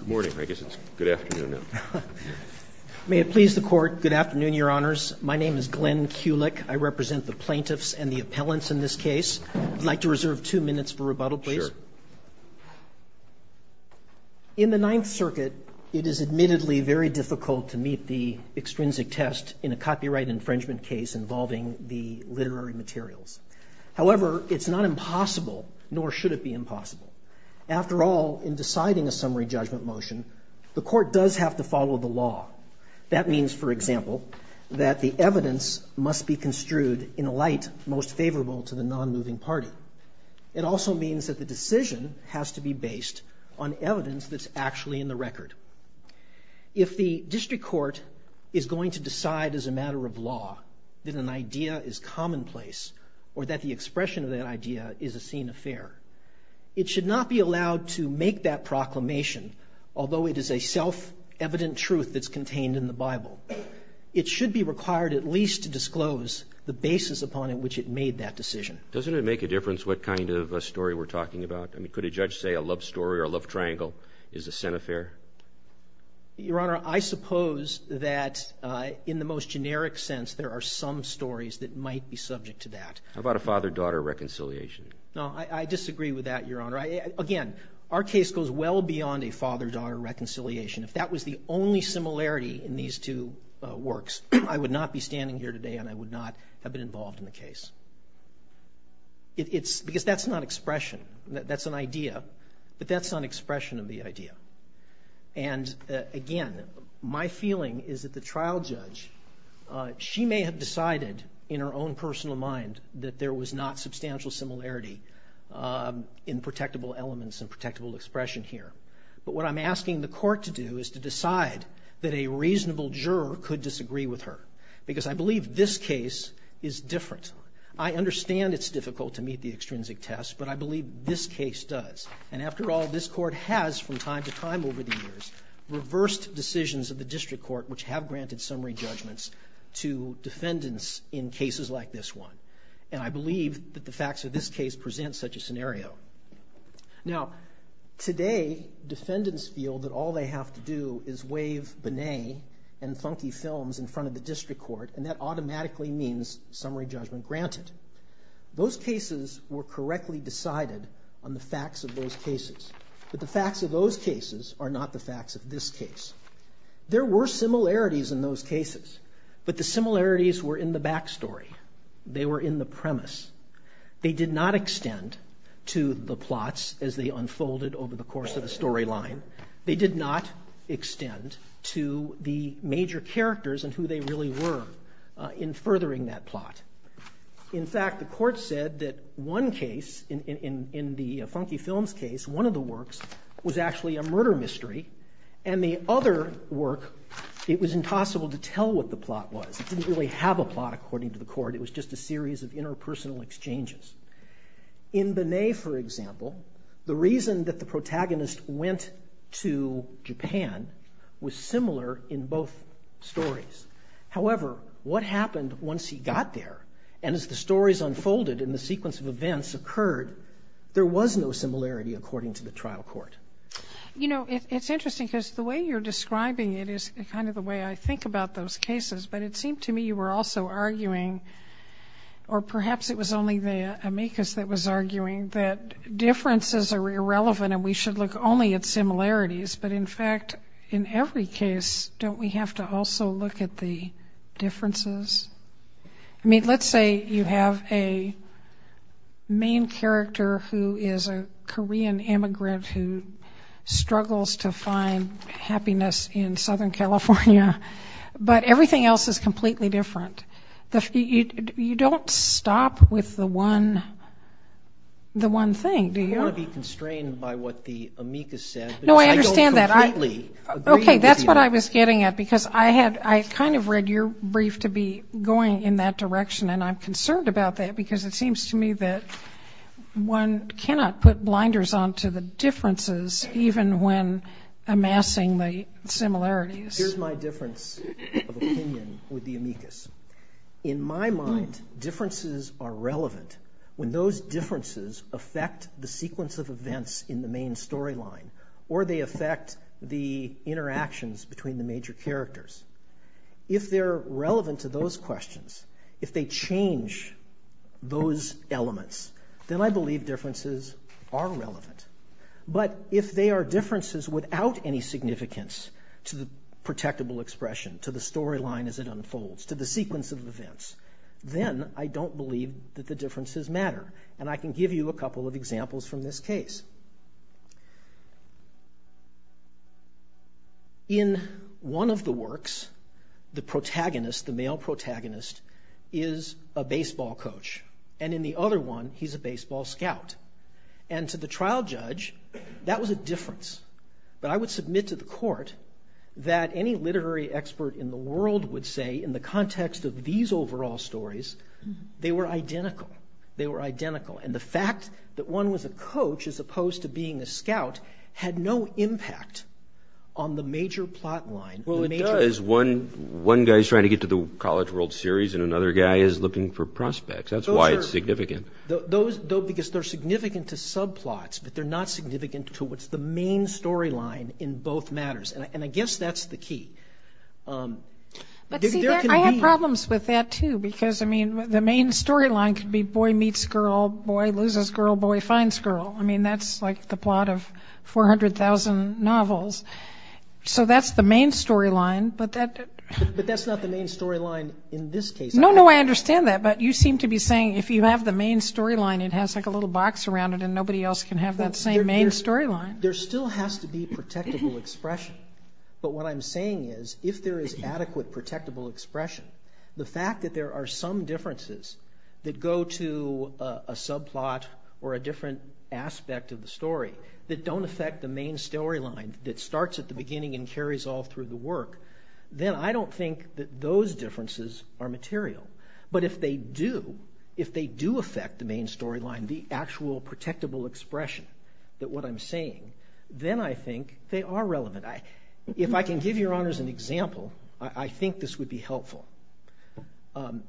Good morning. I guess it's good afternoon now. May it please the court. Good afternoon, your honors. My name is Glenn Kulik. I represent the plaintiffs and the appellants in this case. I'd like to reserve two minutes for rebuttal, please. Sure. In the Ninth Circuit, it is admittedly very difficult to meet the extrinsic test in a copyright infringement case involving the literary materials. However, it's not impossible, nor should it be impossible. After all, in deciding a summary judgment motion, the court does have to follow the law. That means, for example, that the evidence must be construed in a light most favorable to the non-moving party. It also means that the decision has to be based on evidence that's actually in the record. If the district court is going to decide as a matter of law that an idea is commonplace or that the should not be allowed to make that proclamation, although it is a self-evident truth that's contained in the Bible, it should be required at least to disclose the basis upon in which it made that decision. Doesn't it make a difference what kind of a story we're talking about? I mean, could a judge say a love story or a love triangle is a sin affair? Your honor, I suppose that in the most generic sense, there are some stories that might be subject to that. How about a father-daughter reconciliation? No, I disagree with that, your honor. Again, our case goes well beyond a father-daughter reconciliation. If that was the only similarity in these two works, I would not be standing here today and I would not have been involved in the case. It's because that's not expression. That's an idea, but that's not an expression of the idea. And again, my feeling is that the trial judge, she may have decided in her own personal mind that there was not substantial similarity in protectable elements and protectable expression here. But what I'm asking the court to do is to decide that a reasonable juror could disagree with her, because I believe this case is different. I understand it's difficult to meet the extrinsic test, but I believe this case does. And after all, this court has, from time to time over the years, reversed decisions of the district court which have granted summary judgments to defendants in cases like this one. And I believe that the facts of this case present such a scenario. Now, today, defendants feel that all they have to do is wave Binet and funky films in front of the district court, and that automatically means summary judgment granted. Those cases were correctly decided on the facts of those cases. But the facts of those cases are not the facts of this case. There were similarities in those cases, but the similarities were in the backstory. They were in the premise. They did not extend to the plots as they unfolded over the course of the storyline. They did not extend to the major characters and who they really were in furthering that plot. In fact, the court said that one case, in the funky films case, one of the works was actually a murder mystery, and the other work, it was impossible to tell what the plot was. It didn't really have a plot, according to the court. It was just a series of interpersonal exchanges. In Binet, for example, the reason that the protagonist went to Japan was similar in both stories. However, what happened once he got there, and as the stories unfolded and the sequence of events occurred, there was no similarity, according to the trial court. You know, it's interesting because the way you're describing it is kind of the way I think about those cases, but it seemed to me you were also arguing, or perhaps it was only the amicus that was arguing, that differences are irrelevant and we should look only at similarities. But in fact, in every case, don't we have to also look at the differences? I say you have a main character who is a Korean immigrant who struggles to find happiness in Southern California, but everything else is completely different. You don't stop with the one thing, do you? I don't want to be constrained by what the amicus said. No, I understand that. I don't completely agree with you. Okay, that's what I was getting at, because I kind of read your brief to be going in that direction, and I'm concerned about that because it seems to me that one cannot put blinders on to the differences, even when amassing the similarities. Here's my difference of opinion with the amicus. In my mind, differences are relevant when those differences affect the sequence of events in the main storyline, or they affect the interactions between the major characters. If they're relevant to those questions, if they change those elements, then I believe differences are relevant. But if they are differences without any significance to the protectable expression, to the storyline as it unfolds, to the sequence of events, then I don't believe that the differences matter, and I can give you a couple of examples from this case. In one of the works, the protagonist, the male protagonist, is a baseball coach, and in the other one, he's a baseball scout. And to the trial judge, that was a difference. But I would submit to the court that any literary expert in the world would say, in the context of these overall stories, they were identical. They were identical. And the fact that one was a coach, as opposed to being a scout, had no impact on the major plot line. Well, it does. One guy's trying to get to the College World Series, and another guy is looking for prospects. That's why it's significant. Because they're significant to subplots, but they're not significant to what's the main storyline in both matters. And I guess that's the key. But see, I have problems with that, too, because, I mean, the main storyline could be boy meets girl, boy loses girl, boy finds girl. I mean, that's like the plot of 400,000 novels. So that's the main storyline, but that... But that's not the main storyline in this case. No, no, I understand that, but you seem to be saying if you have the main storyline, it has like a little box around it, and nobody else can have that same main storyline. There still has to be protectable expression. But what I'm saying is, if there is adequate protectable expression, the fact that there are some differences that go to a subplot or a different aspect of the story that don't affect the main storyline that starts at the beginning and carries all through the work, then I don't think that those differences are material. But if they do, if they do affect the main storyline, the actual protectable expression that what I'm saying, then I think they are relevant. If I can give your honors an example, I think this would be helpful.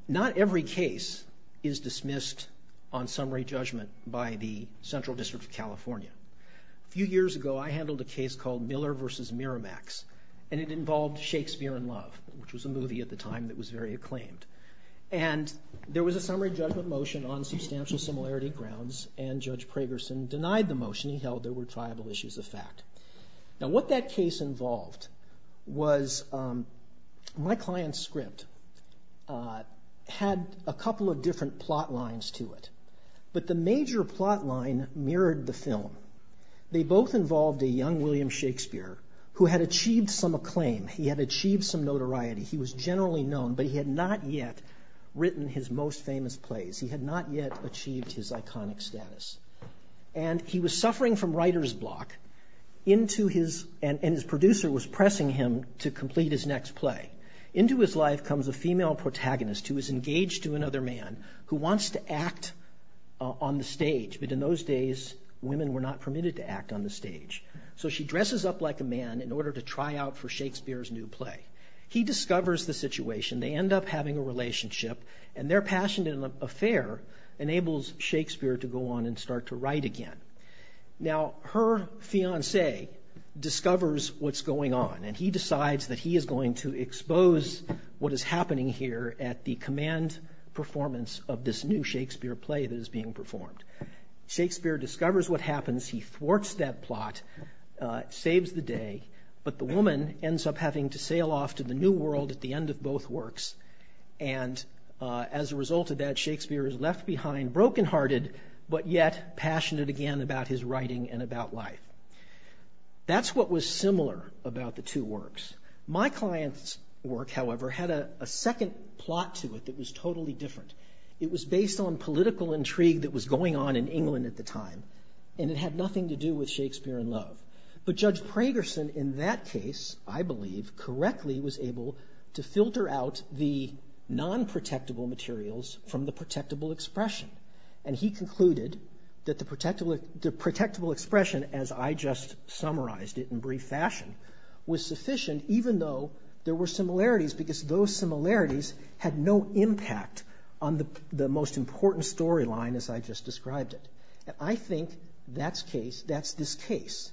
Not every case is dismissed on summary judgment by the Central District of California. A few years ago, I handled a case called Miller versus Miramax, and it involved Shakespeare in Love, which was a movie at the time that was very acclaimed. And there was a summary judgment motion on substantial similarity grounds, and Judge Pragerson denied the motion. He held there were triable issues of fact. Now what that case involved was my client's script had a couple of different plot lines to it, but the major plot line mirrored the film. They both involved a young Shakespeare who had achieved some acclaim. He had achieved some notoriety. He was generally known, but he had not yet written his most famous plays. He had not yet achieved his iconic status. And he was suffering from writer's block, and his producer was pressing him to complete his next play. Into his life comes a female protagonist who is engaged to another man who wants to act on the stage, but in those days women were not permitted to act on the stage. So she dresses up like a man in order to try out for Shakespeare's new play. He discovers the situation. They end up having a relationship, and their passionate affair enables Shakespeare to go on and start to write again. Now her fiancé discovers what's going on, and he decides that he is going to expose what is happening here at the command performance of this new Shakespeare play that is being performed. Shakespeare discovers what happens. He thwarts that plot, saves the day, but the woman ends up having to sail off to the new world at the end of both works. And as a result of that, Shakespeare is left behind brokenhearted, but yet passionate again about his writing and about life. That's what was similar about the two works. My client's work, however, had a second plot to it that was totally different. It was based on political intrigue that was going on in England at the time, and it had nothing to do with Shakespeare and love. But Judge Pragerson, in that case, I believe, correctly was able to filter out the non-protectable materials from the protectable expression. And he concluded that the protectable expression, as I just summarized it in a very brief fashion, was sufficient even though there were similarities, because those similarities had no impact on the most important storyline, as I just described it. I think that's this case.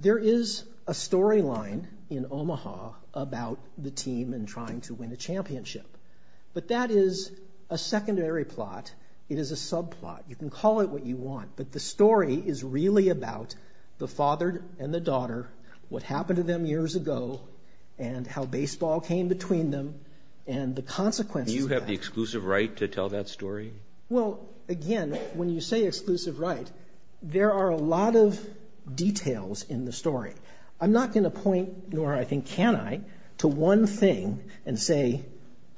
There is a storyline in Omaha about the team in trying to win the championship, but that is a secondary plot. It is a subplot. You can call it what you want, but the story is really about the father and the daughter, what happened to them years ago, and how baseball came between them, and the consequences. Do you have the exclusive right to tell that story? Well, again, when you say exclusive right, there are a lot of details in the story. I'm not going to point, nor I think can I, to one thing and say,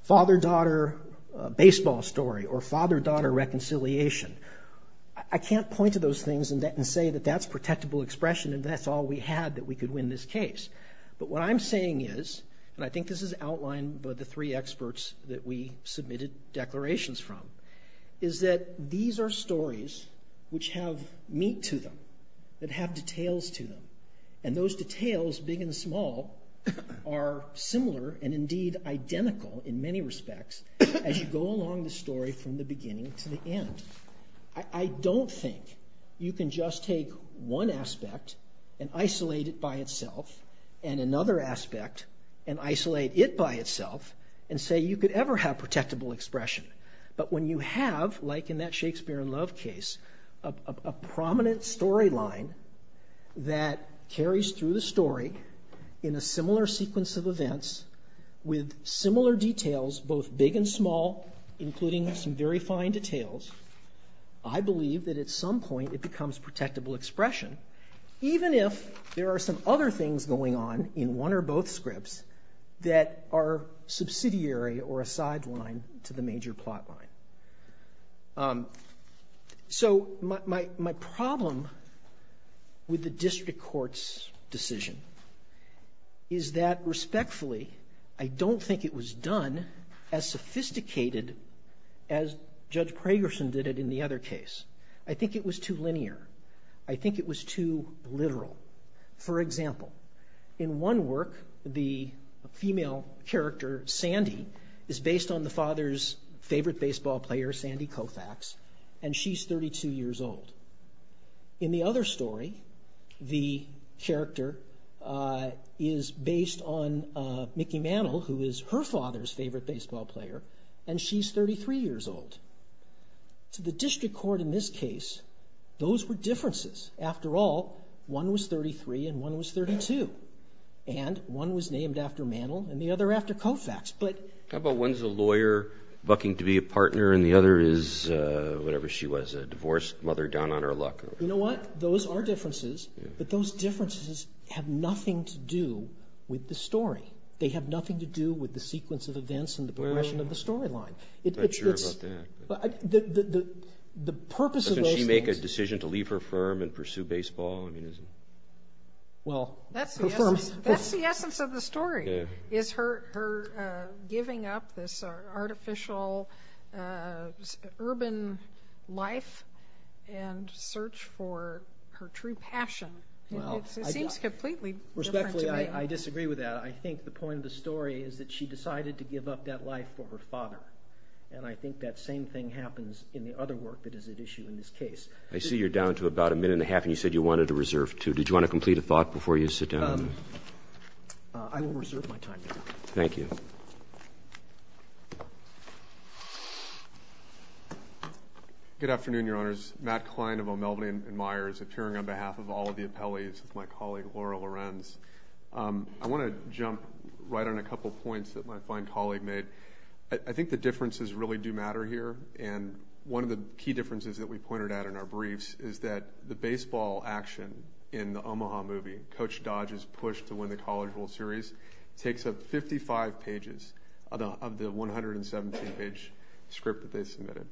father-daughter baseball story or father-daughter reconciliation. I can't point to those things and say that that's protectable expression and that's all we had that we could win this case. But what I'm saying is, and I think this is outlined by the three experts that we submitted declarations from, is that these are stories which have meat to them, that have details to them, and those details, big and small, are similar and indeed identical in many respects as you go along the story from the beginning to the end. I don't think you can just take one aspect and isolate it by itself and another aspect and isolate it by itself and say you could ever have protectable expression. But when you have, like in that Shakespeare in Love case, a prominent storyline that carries through the story in a similar sequence of events with similar details, both big and small, including some very fine details, I believe that at some point it becomes protectable expression, even if there are some other things going on in one or both scripts that are subsidiary or a sideline to the major plotline. So my problem with the district court's decision is that, respectfully, I don't think it was done as sophisticated as Judge Pragerson did it in the other case. I think it was too linear. I think it was too literal. For example, in one work the female character, Sandy, is based on the father's favorite baseball player, Sandy Koufax, and she's 32 years old. In the other story, the character is based on Mickey Mantle, who is her father's favorite baseball player, and she's 33 years old. To the district court in this case, those were differences. After all, one was 33 and one was 32, and one was named after Mantle and the other after Koufax. How about one's a lawyer bucking to be a partner and the other is, whatever she was, a divorced mother down on her You know what? Those are differences, but those differences have nothing to do with the story. They have nothing to do with the sequence of events and the progression of the storyline. I'm not sure about that. The purpose of those things... Doesn't she make a decision to leave her firm and pursue baseball? That's the essence of the story, is her giving up this artificial, urban life and search for her true passion. It seems completely different to me. Respectfully, I disagree with that. I think the point of the story is that she decided to give up that life for her father, and I think that same thing happens in the other work that is at issue in this case. I see you're down to about a minute and a half, and you said you wanted to reserve two. Did you want to complete a thought before you sit down? I will reserve my time. Thank you. Good afternoon, Your Honors. Matt Klein of O'Melveny & Myers, appearing on behalf of all of the appellees, my colleague, Laura Lorenz. I want to jump right on a couple points that my fine colleague made. I think the differences really do matter here, and one of the key differences that we pointed out in our briefs is that the baseball action in the Omaha movie, Coach Dodge's push to win the College Bowl Series, takes up 55 pages of the 117-page script that they submitted.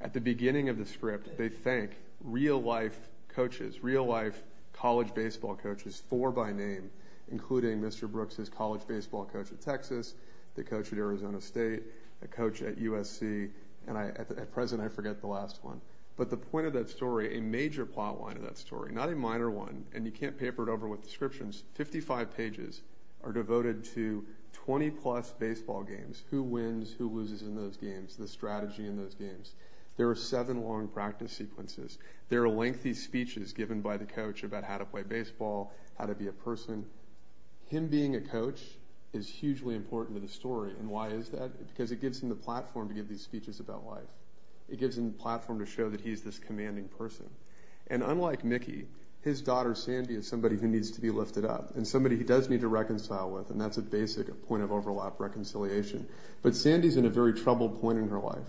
At the beginning of the script, they thank real-life coaches, real-life college baseball coaches, four by name, including Mr. Brooks' college baseball coach at Texas, the coach at Arizona State, the coach at USC, and at present, I forget the last one, but the point of that story, a major plotline of that story, not a minor one, and you can't paper it over with descriptions, 55 pages are devoted to 20-plus baseball games, who wins, who loses in those games, the strategy in those games. There are seven long practice sequences. There are lengthy speeches given by the coach about how to play baseball, how to be a person. Him being a coach is hugely important to the story, and why is that? Because it gives him the platform to give these speeches about life. It gives him the platform to show that he's this commanding person. And unlike Mickey, his daughter Sandy is somebody who needs to be lifted up, and somebody he does need to reconcile with, and that's a basic point of overlap reconciliation. But Sandy's in a very troubled point in her life.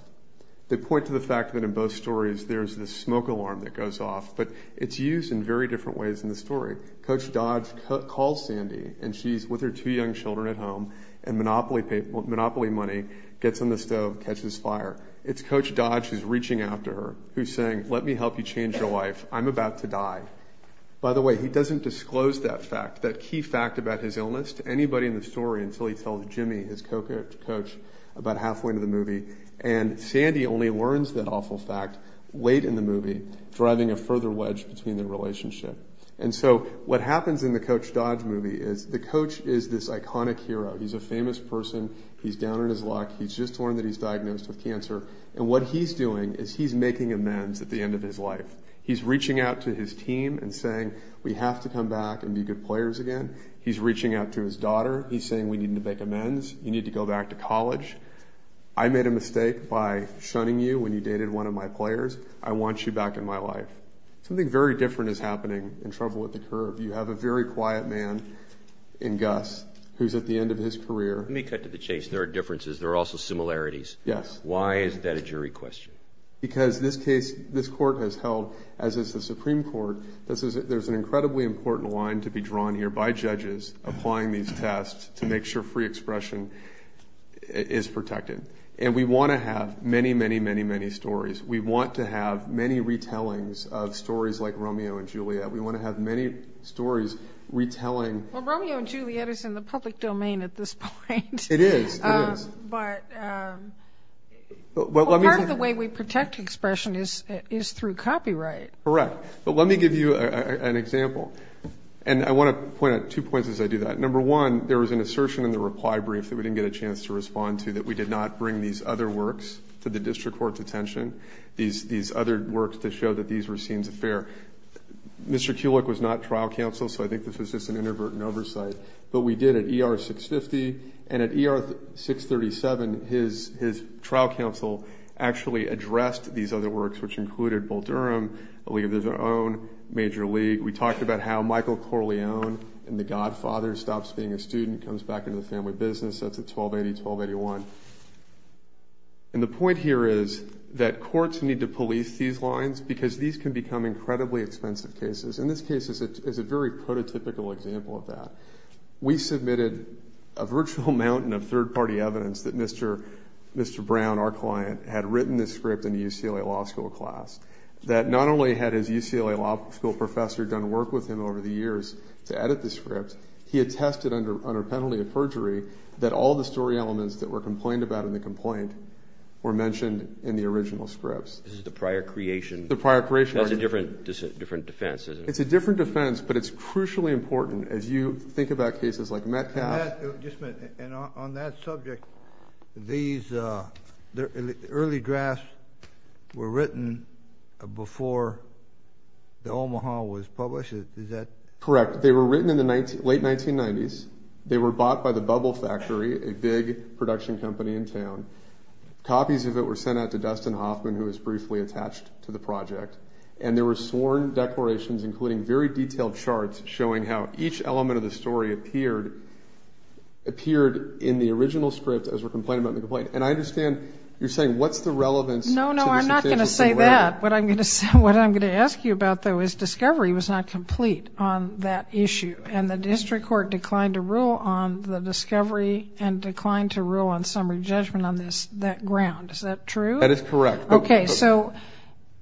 They point to the fact that in both stories, there's this smoke alarm that goes off, but it's used in very different ways in the story. Coach Dodge calls Sandy, and she's with her two young children at home, and Monopoly money gets on the stove, catches fire. It's Coach Dodge who's reaching out to her, who's saying, let me help you change your life, I'm about to die. By the way, he doesn't disclose that fact, that key fact about his illness, to anybody in the story until he tells Jimmy, his coach, about halfway into the movie, and Sandy only learns that awful fact late in the movie, driving a further wedge between their relationship. And so, what happens in the Coach Dodge movie is, the coach is this iconic hero. He's a famous person. He's down on his luck. He's just learned that he's diagnosed with cancer. And what he's doing is he's making amends at the end of his life. He's reaching out to his team and saying, we have to come back and be good players again. He's reaching out to his daughter. He's saying, we need to make amends. You need to go back to college. I made a mistake by shunning you when you dated one of my players. I want you back in my life. Something very different is happening in Trouble at the Curb. You have a very quiet man in Gus who's at the end of his career. Let me cut to the chase. There are differences. There are also similarities. Yes. Why is that a jury question? Because this case, this court has held, as is the Supreme Court, there's an incredibly important line to be drawn here by judges applying these tests to make sure free expression is protected. And we want to have many, many, many, many stories. We want to have many retellings of stories like Romeo and Juliet. We want to have many stories retelling. Well, Romeo and Juliet is in the public domain at this point. It is. It is. But part of the way we protect expression is through copyright. Correct. But let me give you an example. And I want to point out two points as I do that. Number one, there was an assertion in the reply brief that we didn't get a chance to respond to that we did not bring these other works to the district court's attention, these other works to show that these were scenes of fear. Mr. Kulik was not trial counsel, so I think this was just an introvert in oversight. But we did at ER 650. And at ER 637, his trial counsel actually addressed these other works, which included Bull Durham, a league of their own, Major League. We talked about how Michael Corleone in The Godfather stops being a student, comes back into the family business. That's at 1280-1281. And the point here is that courts need to police these lines because these can become incredibly expensive cases. And this case is a very prototypical example of that. We submitted a virtual mountain of third-party evidence that Mr. Brown, our client, had written this script in a UCLA Law School class that not only had his UCLA Law School professor done work with him over the years to edit the script, he attested under penalty of perjury that all the story elements that were complained about in the complaint were mentioned in the original scripts. This is the prior creation? The prior creation. That's a different defense, isn't it? It's a different defense, but it's crucially important. As you think about cases like Metcalfe... And that, just a minute, on that subject, these early drafts were written before The Omaha was published, is that... Correct. They were written in the late 1990s. They were bought by the Bubble Factory, a big production company in town. Copies of it were sent out to Dustin Hoffman, who was briefly attached to the project. And there were sworn declarations, including very detailed charts showing how each element of the story appeared in the original script as we're complaining about in the complaint. And I understand you're saying, what's the relevance... No, no, I'm not going to say that. What I'm going to ask you about, though, is discovery was not complete on that issue. And the district court declined to rule on the discovery and declined to rule on summary judgment on that ground. Is that true? That is correct. Okay, so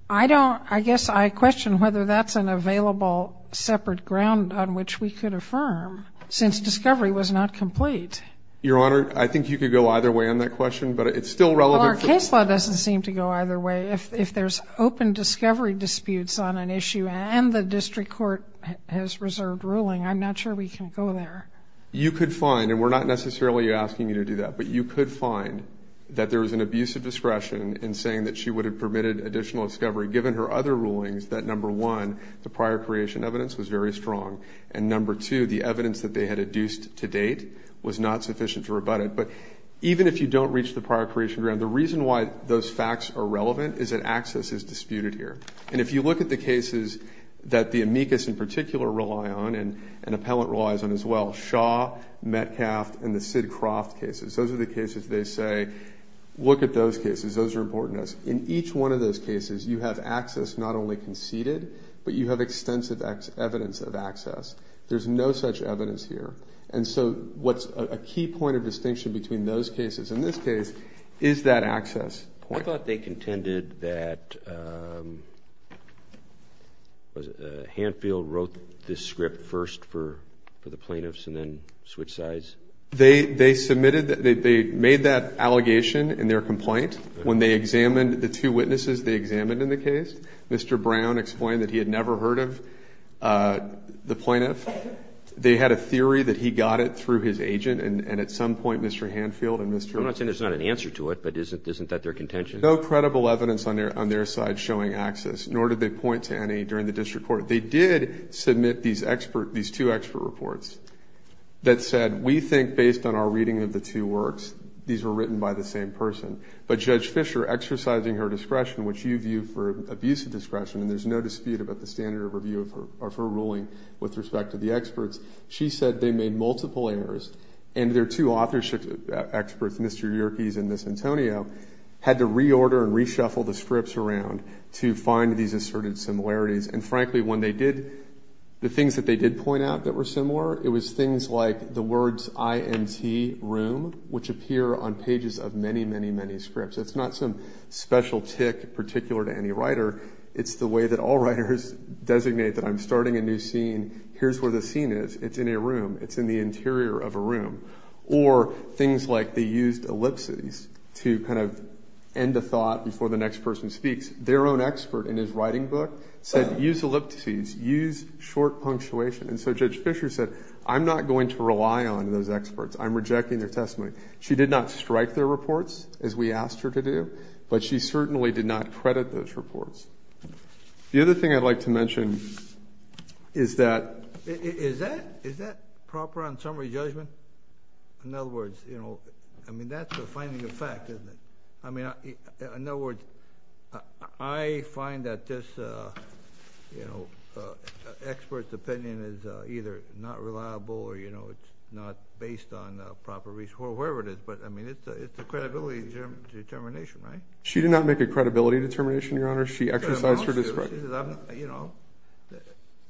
I don't... I guess I question whether that's an available separate ground on which we could affirm, since discovery was not complete. Your Honor, I think you could go either way on that question, but it's still relevant... Well, our case law doesn't seem to go either way. If there's open discovery disputes on an issue and the district court has reserved ruling, I'm not sure we can go there. You could find, and we're not necessarily asking you to do that, but you could find that there was an abuse of discretion in saying that she would have permitted additional discovery, given her other rulings, that, number one, the prior creation evidence was very strong. And number two, the evidence that they had adduced to date was not sufficient to rebut it. But even if you don't reach the prior creation ground, the reason why those facts are relevant is that access is disputed here. And if you look at the cases that the amicus in particular rely on and appellant relies on as well, Shaw, Metcalf, and the Sidcroft cases, those are the cases they say, look at those cases, those are important to us. In each one of those cases, you have access not only conceded, but you have extensive evidence of access. There's no such evidence here. And so what's a key point of distinction between those cases and this case is that access point. I thought they contended that... Hanfield wrote this script first for the plaintiffs and then switched sides. They submitted, they made that allegation in their complaint. When they examined the two witnesses they examined in the case, Mr. Brown explained that he had never heard of the plaintiff. They had a theory that he got it through his agent and at some point, Mr. Hanfield and Mr. Brown... I'm not saying there's not an answer to it, but isn't that their contention? No credible evidence on their side showing access, nor did they point to any during the district court. They did submit these two expert reports that said, we think based on our reading of the two works, these were written by the same person. But Judge Fisher, exercising her discretion, which you view for abuse of discretion, and there's no dispute about the standard of review of her ruling with respect to the experts, she said they made multiple errors and their two authorship experts, Mr. Yerkes and Ms. Antonio, had to reorder and reshuffle the scripts around to find these asserted similarities. And frankly, when they did, the things that they did point out that were similar, it was things like the words IMT room, which appear on pages of many, many, many scripts. It's not some special tick particular to any writer. It's the way that all writers designate that I'm starting a new scene. Here's where the scene is. It's in a room. It's in the interior of a room. Or things like they used ellipses to kind of end a thought before the next person speaks. Their own expert in his writing book said use ellipses, use short punctuation. And so Judge Fisher said, I'm not going to rely on those experts. I'm rejecting their testimony. She did not strike their reports as we asked her to do, but she certainly did not credit those reports. The other thing I'd like to mention is that... Is that proper on summary judgment? In other words, you know, I mean, that's a finding of fact, isn't it? I mean, in other words, I find that this, you know, expert's opinion is either not reliable or, you know, it's not based on proper research, or whatever it is. But I mean, it's a credibility determination, right? She did not make a credibility determination, Your Honor. She exercised her discretion. You know,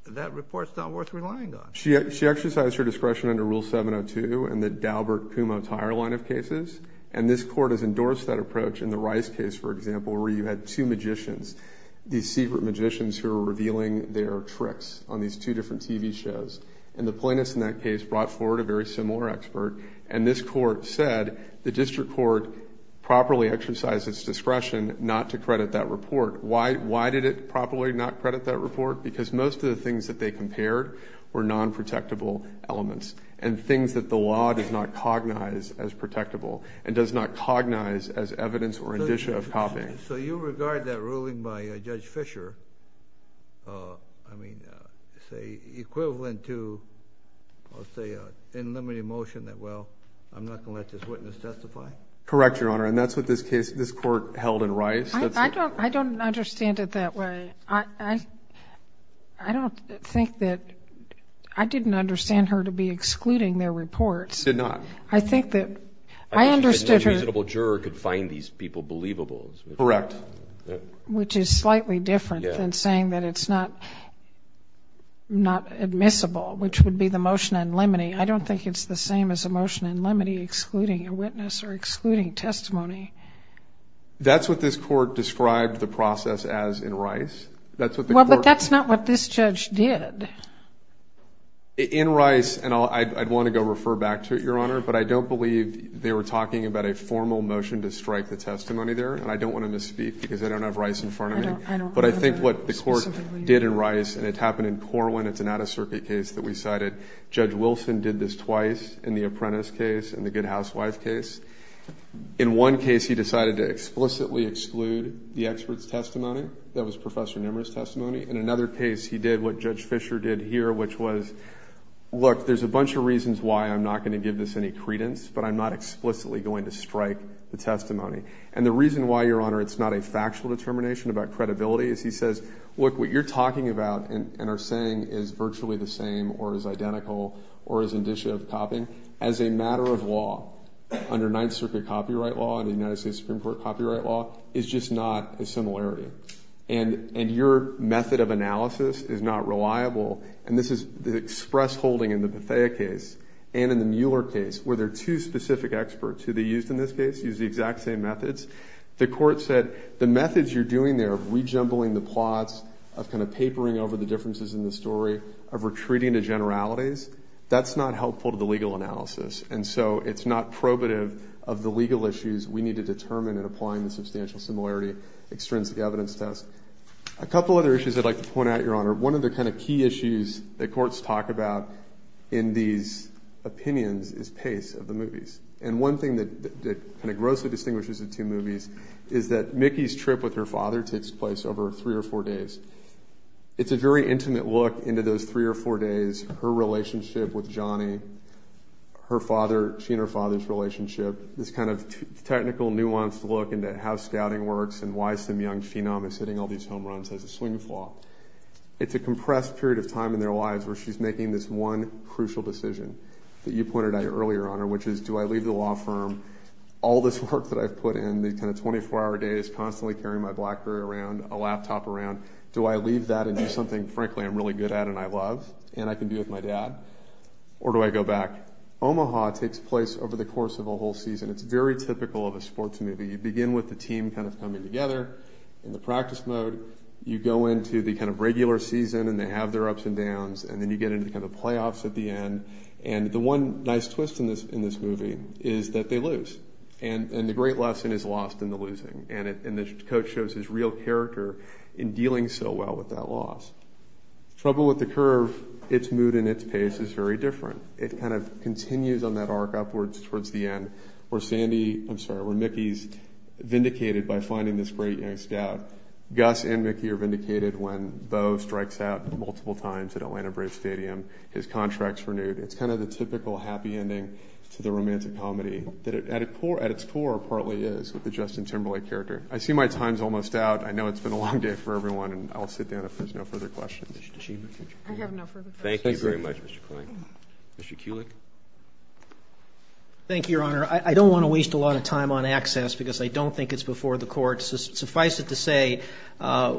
that report's not worth relying on. She exercised her discretion under Rule 702 and the Daubert-Kumho-Tyre line of cases. And this Court has endorsed that approach in the Rice case, for example, where you had two magicians, these secret magicians who were revealing their tricks on these two different TV shows. And the plaintiffs in that case brought forward a very similar expert. And this Court said the District Court properly exercised its discretion not to credit that report. Why did it properly not credit that report? Because most of the things that they compared were non-protectable elements, and things that the law does not cognize as protectable, and does not cognize as evidence or indicia of copying. So you regard that ruling by Judge Fisher, I mean, say, equivalent to, I'll say, an unlimited motion that, well, I'm not going to let this witness testify? Correct, Your Honor. And that's what this case, this Court held in Rice. I don't understand it that way. I don't think that, I didn't understand her to be excluding their reports. You did not. I think that I understood her. I don't think any reasonable juror could find these people believable. Correct. Which is slightly different than saying that it's not admissible, which would be the motion in limine. I don't think it's the same as a motion in limine excluding a witness or excluding testimony. That's what this Court described the process as in Rice. Well, but that's not what this judge did. In Rice, and I'd want to go refer back to it, Your Honor, but I don't believe they were talking about a formal motion to strike the testimony there. And I don't want to misspeak because I don't have Rice in front of me. But I think what the Court did in Rice, and it happened in Corwin, it's an out-of-circuit case that we cited. Judge Wilson did this twice in the Apprentice case and the Good Housewife case. In one case, he decided to explicitly exclude the expert's testimony. That was Professor Nimra's testimony. In another case, he did what Judge Fisher did here, which was, look, there's a bunch of reasons why I'm not going to give this any credence, but I'm not explicitly going to strike the testimony. And the reason why, Your Honor, it's not a factual determination about credibility is he says, look, what you're talking about and are saying is virtually the same or is identical or is indicia of copying. As a matter of law, under Ninth Circuit copyright law and the United States Supreme Court copyright law, it's just not a similarity. And your method of analysis is not reliable, and this is the express holding in the Bethea case and in the Mueller case, where there are two specific experts who they used in this case, used the exact same methods. The Court said, the methods you're doing there of rejumbling the plots, of kind of papering over the differences in the story, of retreating to generalities, that's not helpful to the legal analysis. And so it's not probative of the legal issues we need to determine in applying the substantial similarity extrinsic evidence test. A couple other issues I'd like to point out, Your Honor. One of the kind of key issues that courts talk about in these opinions is pace of the movies. And one thing that kind of grossly distinguishes the two movies is that Mickey's trip with her father takes place over three or four days. It's a very intimate look into those three or four days her relationship with Johnny, her father, she and her father's relationship, this kind of technical, nuanced look into how scouting works and why some young phenom is hitting all these home runs as a swing flaw. It's a compressed period of time in their lives where she's making this one crucial decision that you pointed out earlier, Your Honor, which is, do I leave the law firm all this work that I've put in, these kind of 24-hour days constantly carrying my Blackberry around, a laptop around, do I leave that and do something, frankly, I'm really good at and I love and I can be with my dad, or do I go back? Omaha takes place over the course of a whole season. It's very typical of a sports movie. You begin with the team kind of coming together in the practice mode. You go into the kind of regular season and they have their ups and downs and then you get into the kind of playoffs at the end and the one nice twist in this movie is that they lose and the great lesson is lost in the losing and the coach shows his real character in dealing so well with that loss. Trouble With the Curve, its mood and its pace is very different. It kind of continues on that arc upwards towards the end where Sandy, I'm sorry, where Mickey's vindicated by finding this great young scout. Gus and Mickey are vindicated when Bo strikes out multiple times at Atlanta Brave Stadium. His contract's renewed. It's kind of the typical happy ending to the romantic comedy that at its core partly is with the Justin Timberlake character. I see my time's almost out. I know it's been a long day for everyone and I'll sit down if there's no further questions. I have no further questions. Thank you very much, Mr. Kline. Mr. Kulick. Thank you, Your Honor. I don't want to waste a lot of time on access because I don't think it's before the court. Suffice it to say,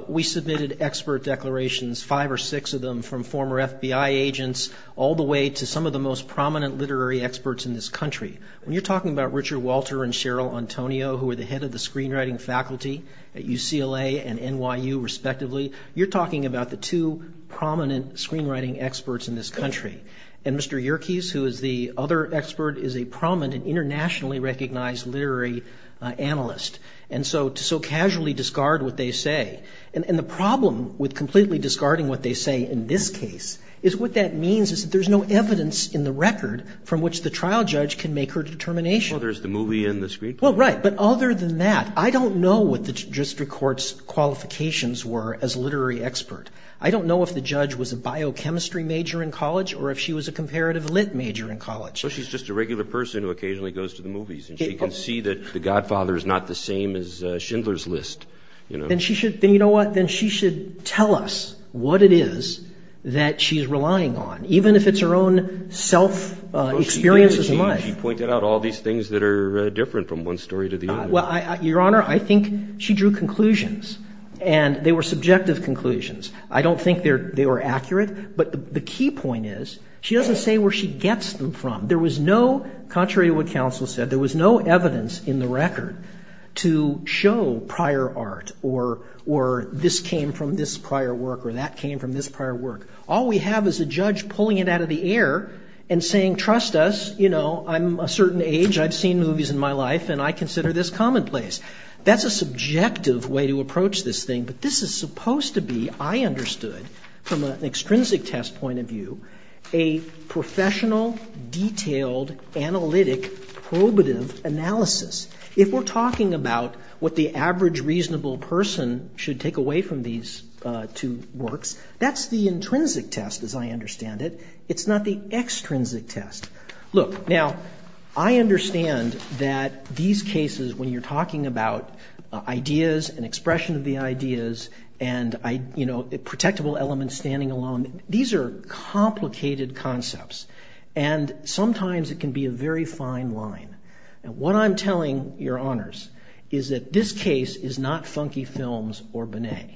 we submitted expert declarations, five or six of them, from former FBI agents all the way to some of the most prominent literary experts in this country. When you're talking about Richard Walter and Cheryl Antonio, who were the head of the screenwriting faculty at UCLA and NYU, respectively, you're talking about the two prominent screenwriting experts in this country. And Mr. Yerkes, who is the other expert, is a prominent and internationally recognized literary analyst. And so to so casually discard what they say, and the problem with completely discarding what they say in this case is what that means is that there's no evidence in the record from which the trial judge can make her determination. Well, there's the movie and the screenplay. Well, right. But other than that, I don't know what the district court's qualifications were as a literary expert. I don't know if the judge was a biochemistry major in college or if she was a comparative lit major in college. So she's just a regular person who occasionally goes to the movies, and she can see that The Godfather is not the same as Schindler's List. Then she should, then you know what, then she should tell us what it is that she's relying on, even if it's her own self-experience as much. She pointed out all these things that are different from one story to the other. Well, Your Honor, I think she drew conclusions, and they were subjective conclusions. I don't think they were accurate, but the key point is she doesn't say where she gets them from. There was no, contrary to what counsel said, there was no evidence in the record to show prior art or this came from this prior work or that came from this prior work. All we have is a judge pulling it out of the air and saying, trust us, you know, I'm a certain age, I've seen movies in my life, and I consider this commonplace. That's a subjective way to approach this thing, but this is supposed to be, I understood, from an extrinsic test point of view, a professional, detailed, analytic, probative analysis. If we're talking about what the average reasonable person should take away from these two works, that's the intrinsic test, as I understand it. It's not the extrinsic test. Look, now, I understand that these cases, when you're talking about ideas and expression of the ideas and, you know, protectable elements standing alone, these are complicated concepts and sometimes it can be a very fine line. What I'm telling your honors is that this case is not funky films or Binet.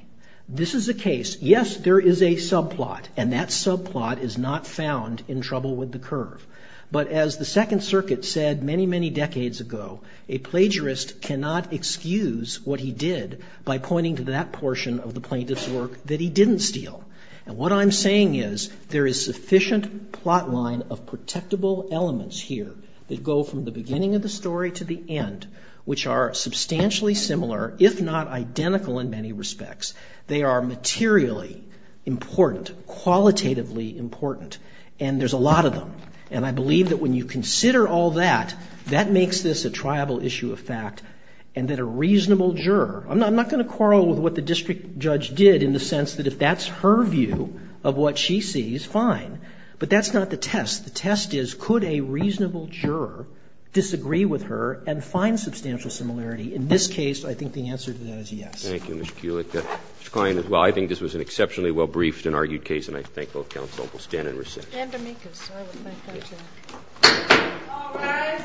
This is a case, yes, there is a subplot and that subplot is not found in Trouble with the Curve, but as the Second Circuit said many, many decades ago, a plagiarist cannot excuse what he did by pointing to that portion of the plaintiff's work that he didn't steal. And what I'm saying is there is sufficient plot line of protectable elements here that go from the beginning of the story to the end, which are substantially similar, if not identical in many respects. They are materially important, qualitatively important, and there's a lot of them. And I believe that when you consider all that, that makes this a triable issue of fact and that a reasonable juror I'm not going to quarrel with what the district judge did in the sense that if that's her view of what she sees, fine. But that's not the test. The test is could a reasonable juror disagree with her and find substantial similarity? In this case, I think the answer to that is yes. Thank you, Mr. Kulik. Ms. Klein, as well, I think this was an exceptionally well-briefed and argued case and I thank both counsel. We'll stand in recess. And amicus. I would like that, too. All rise.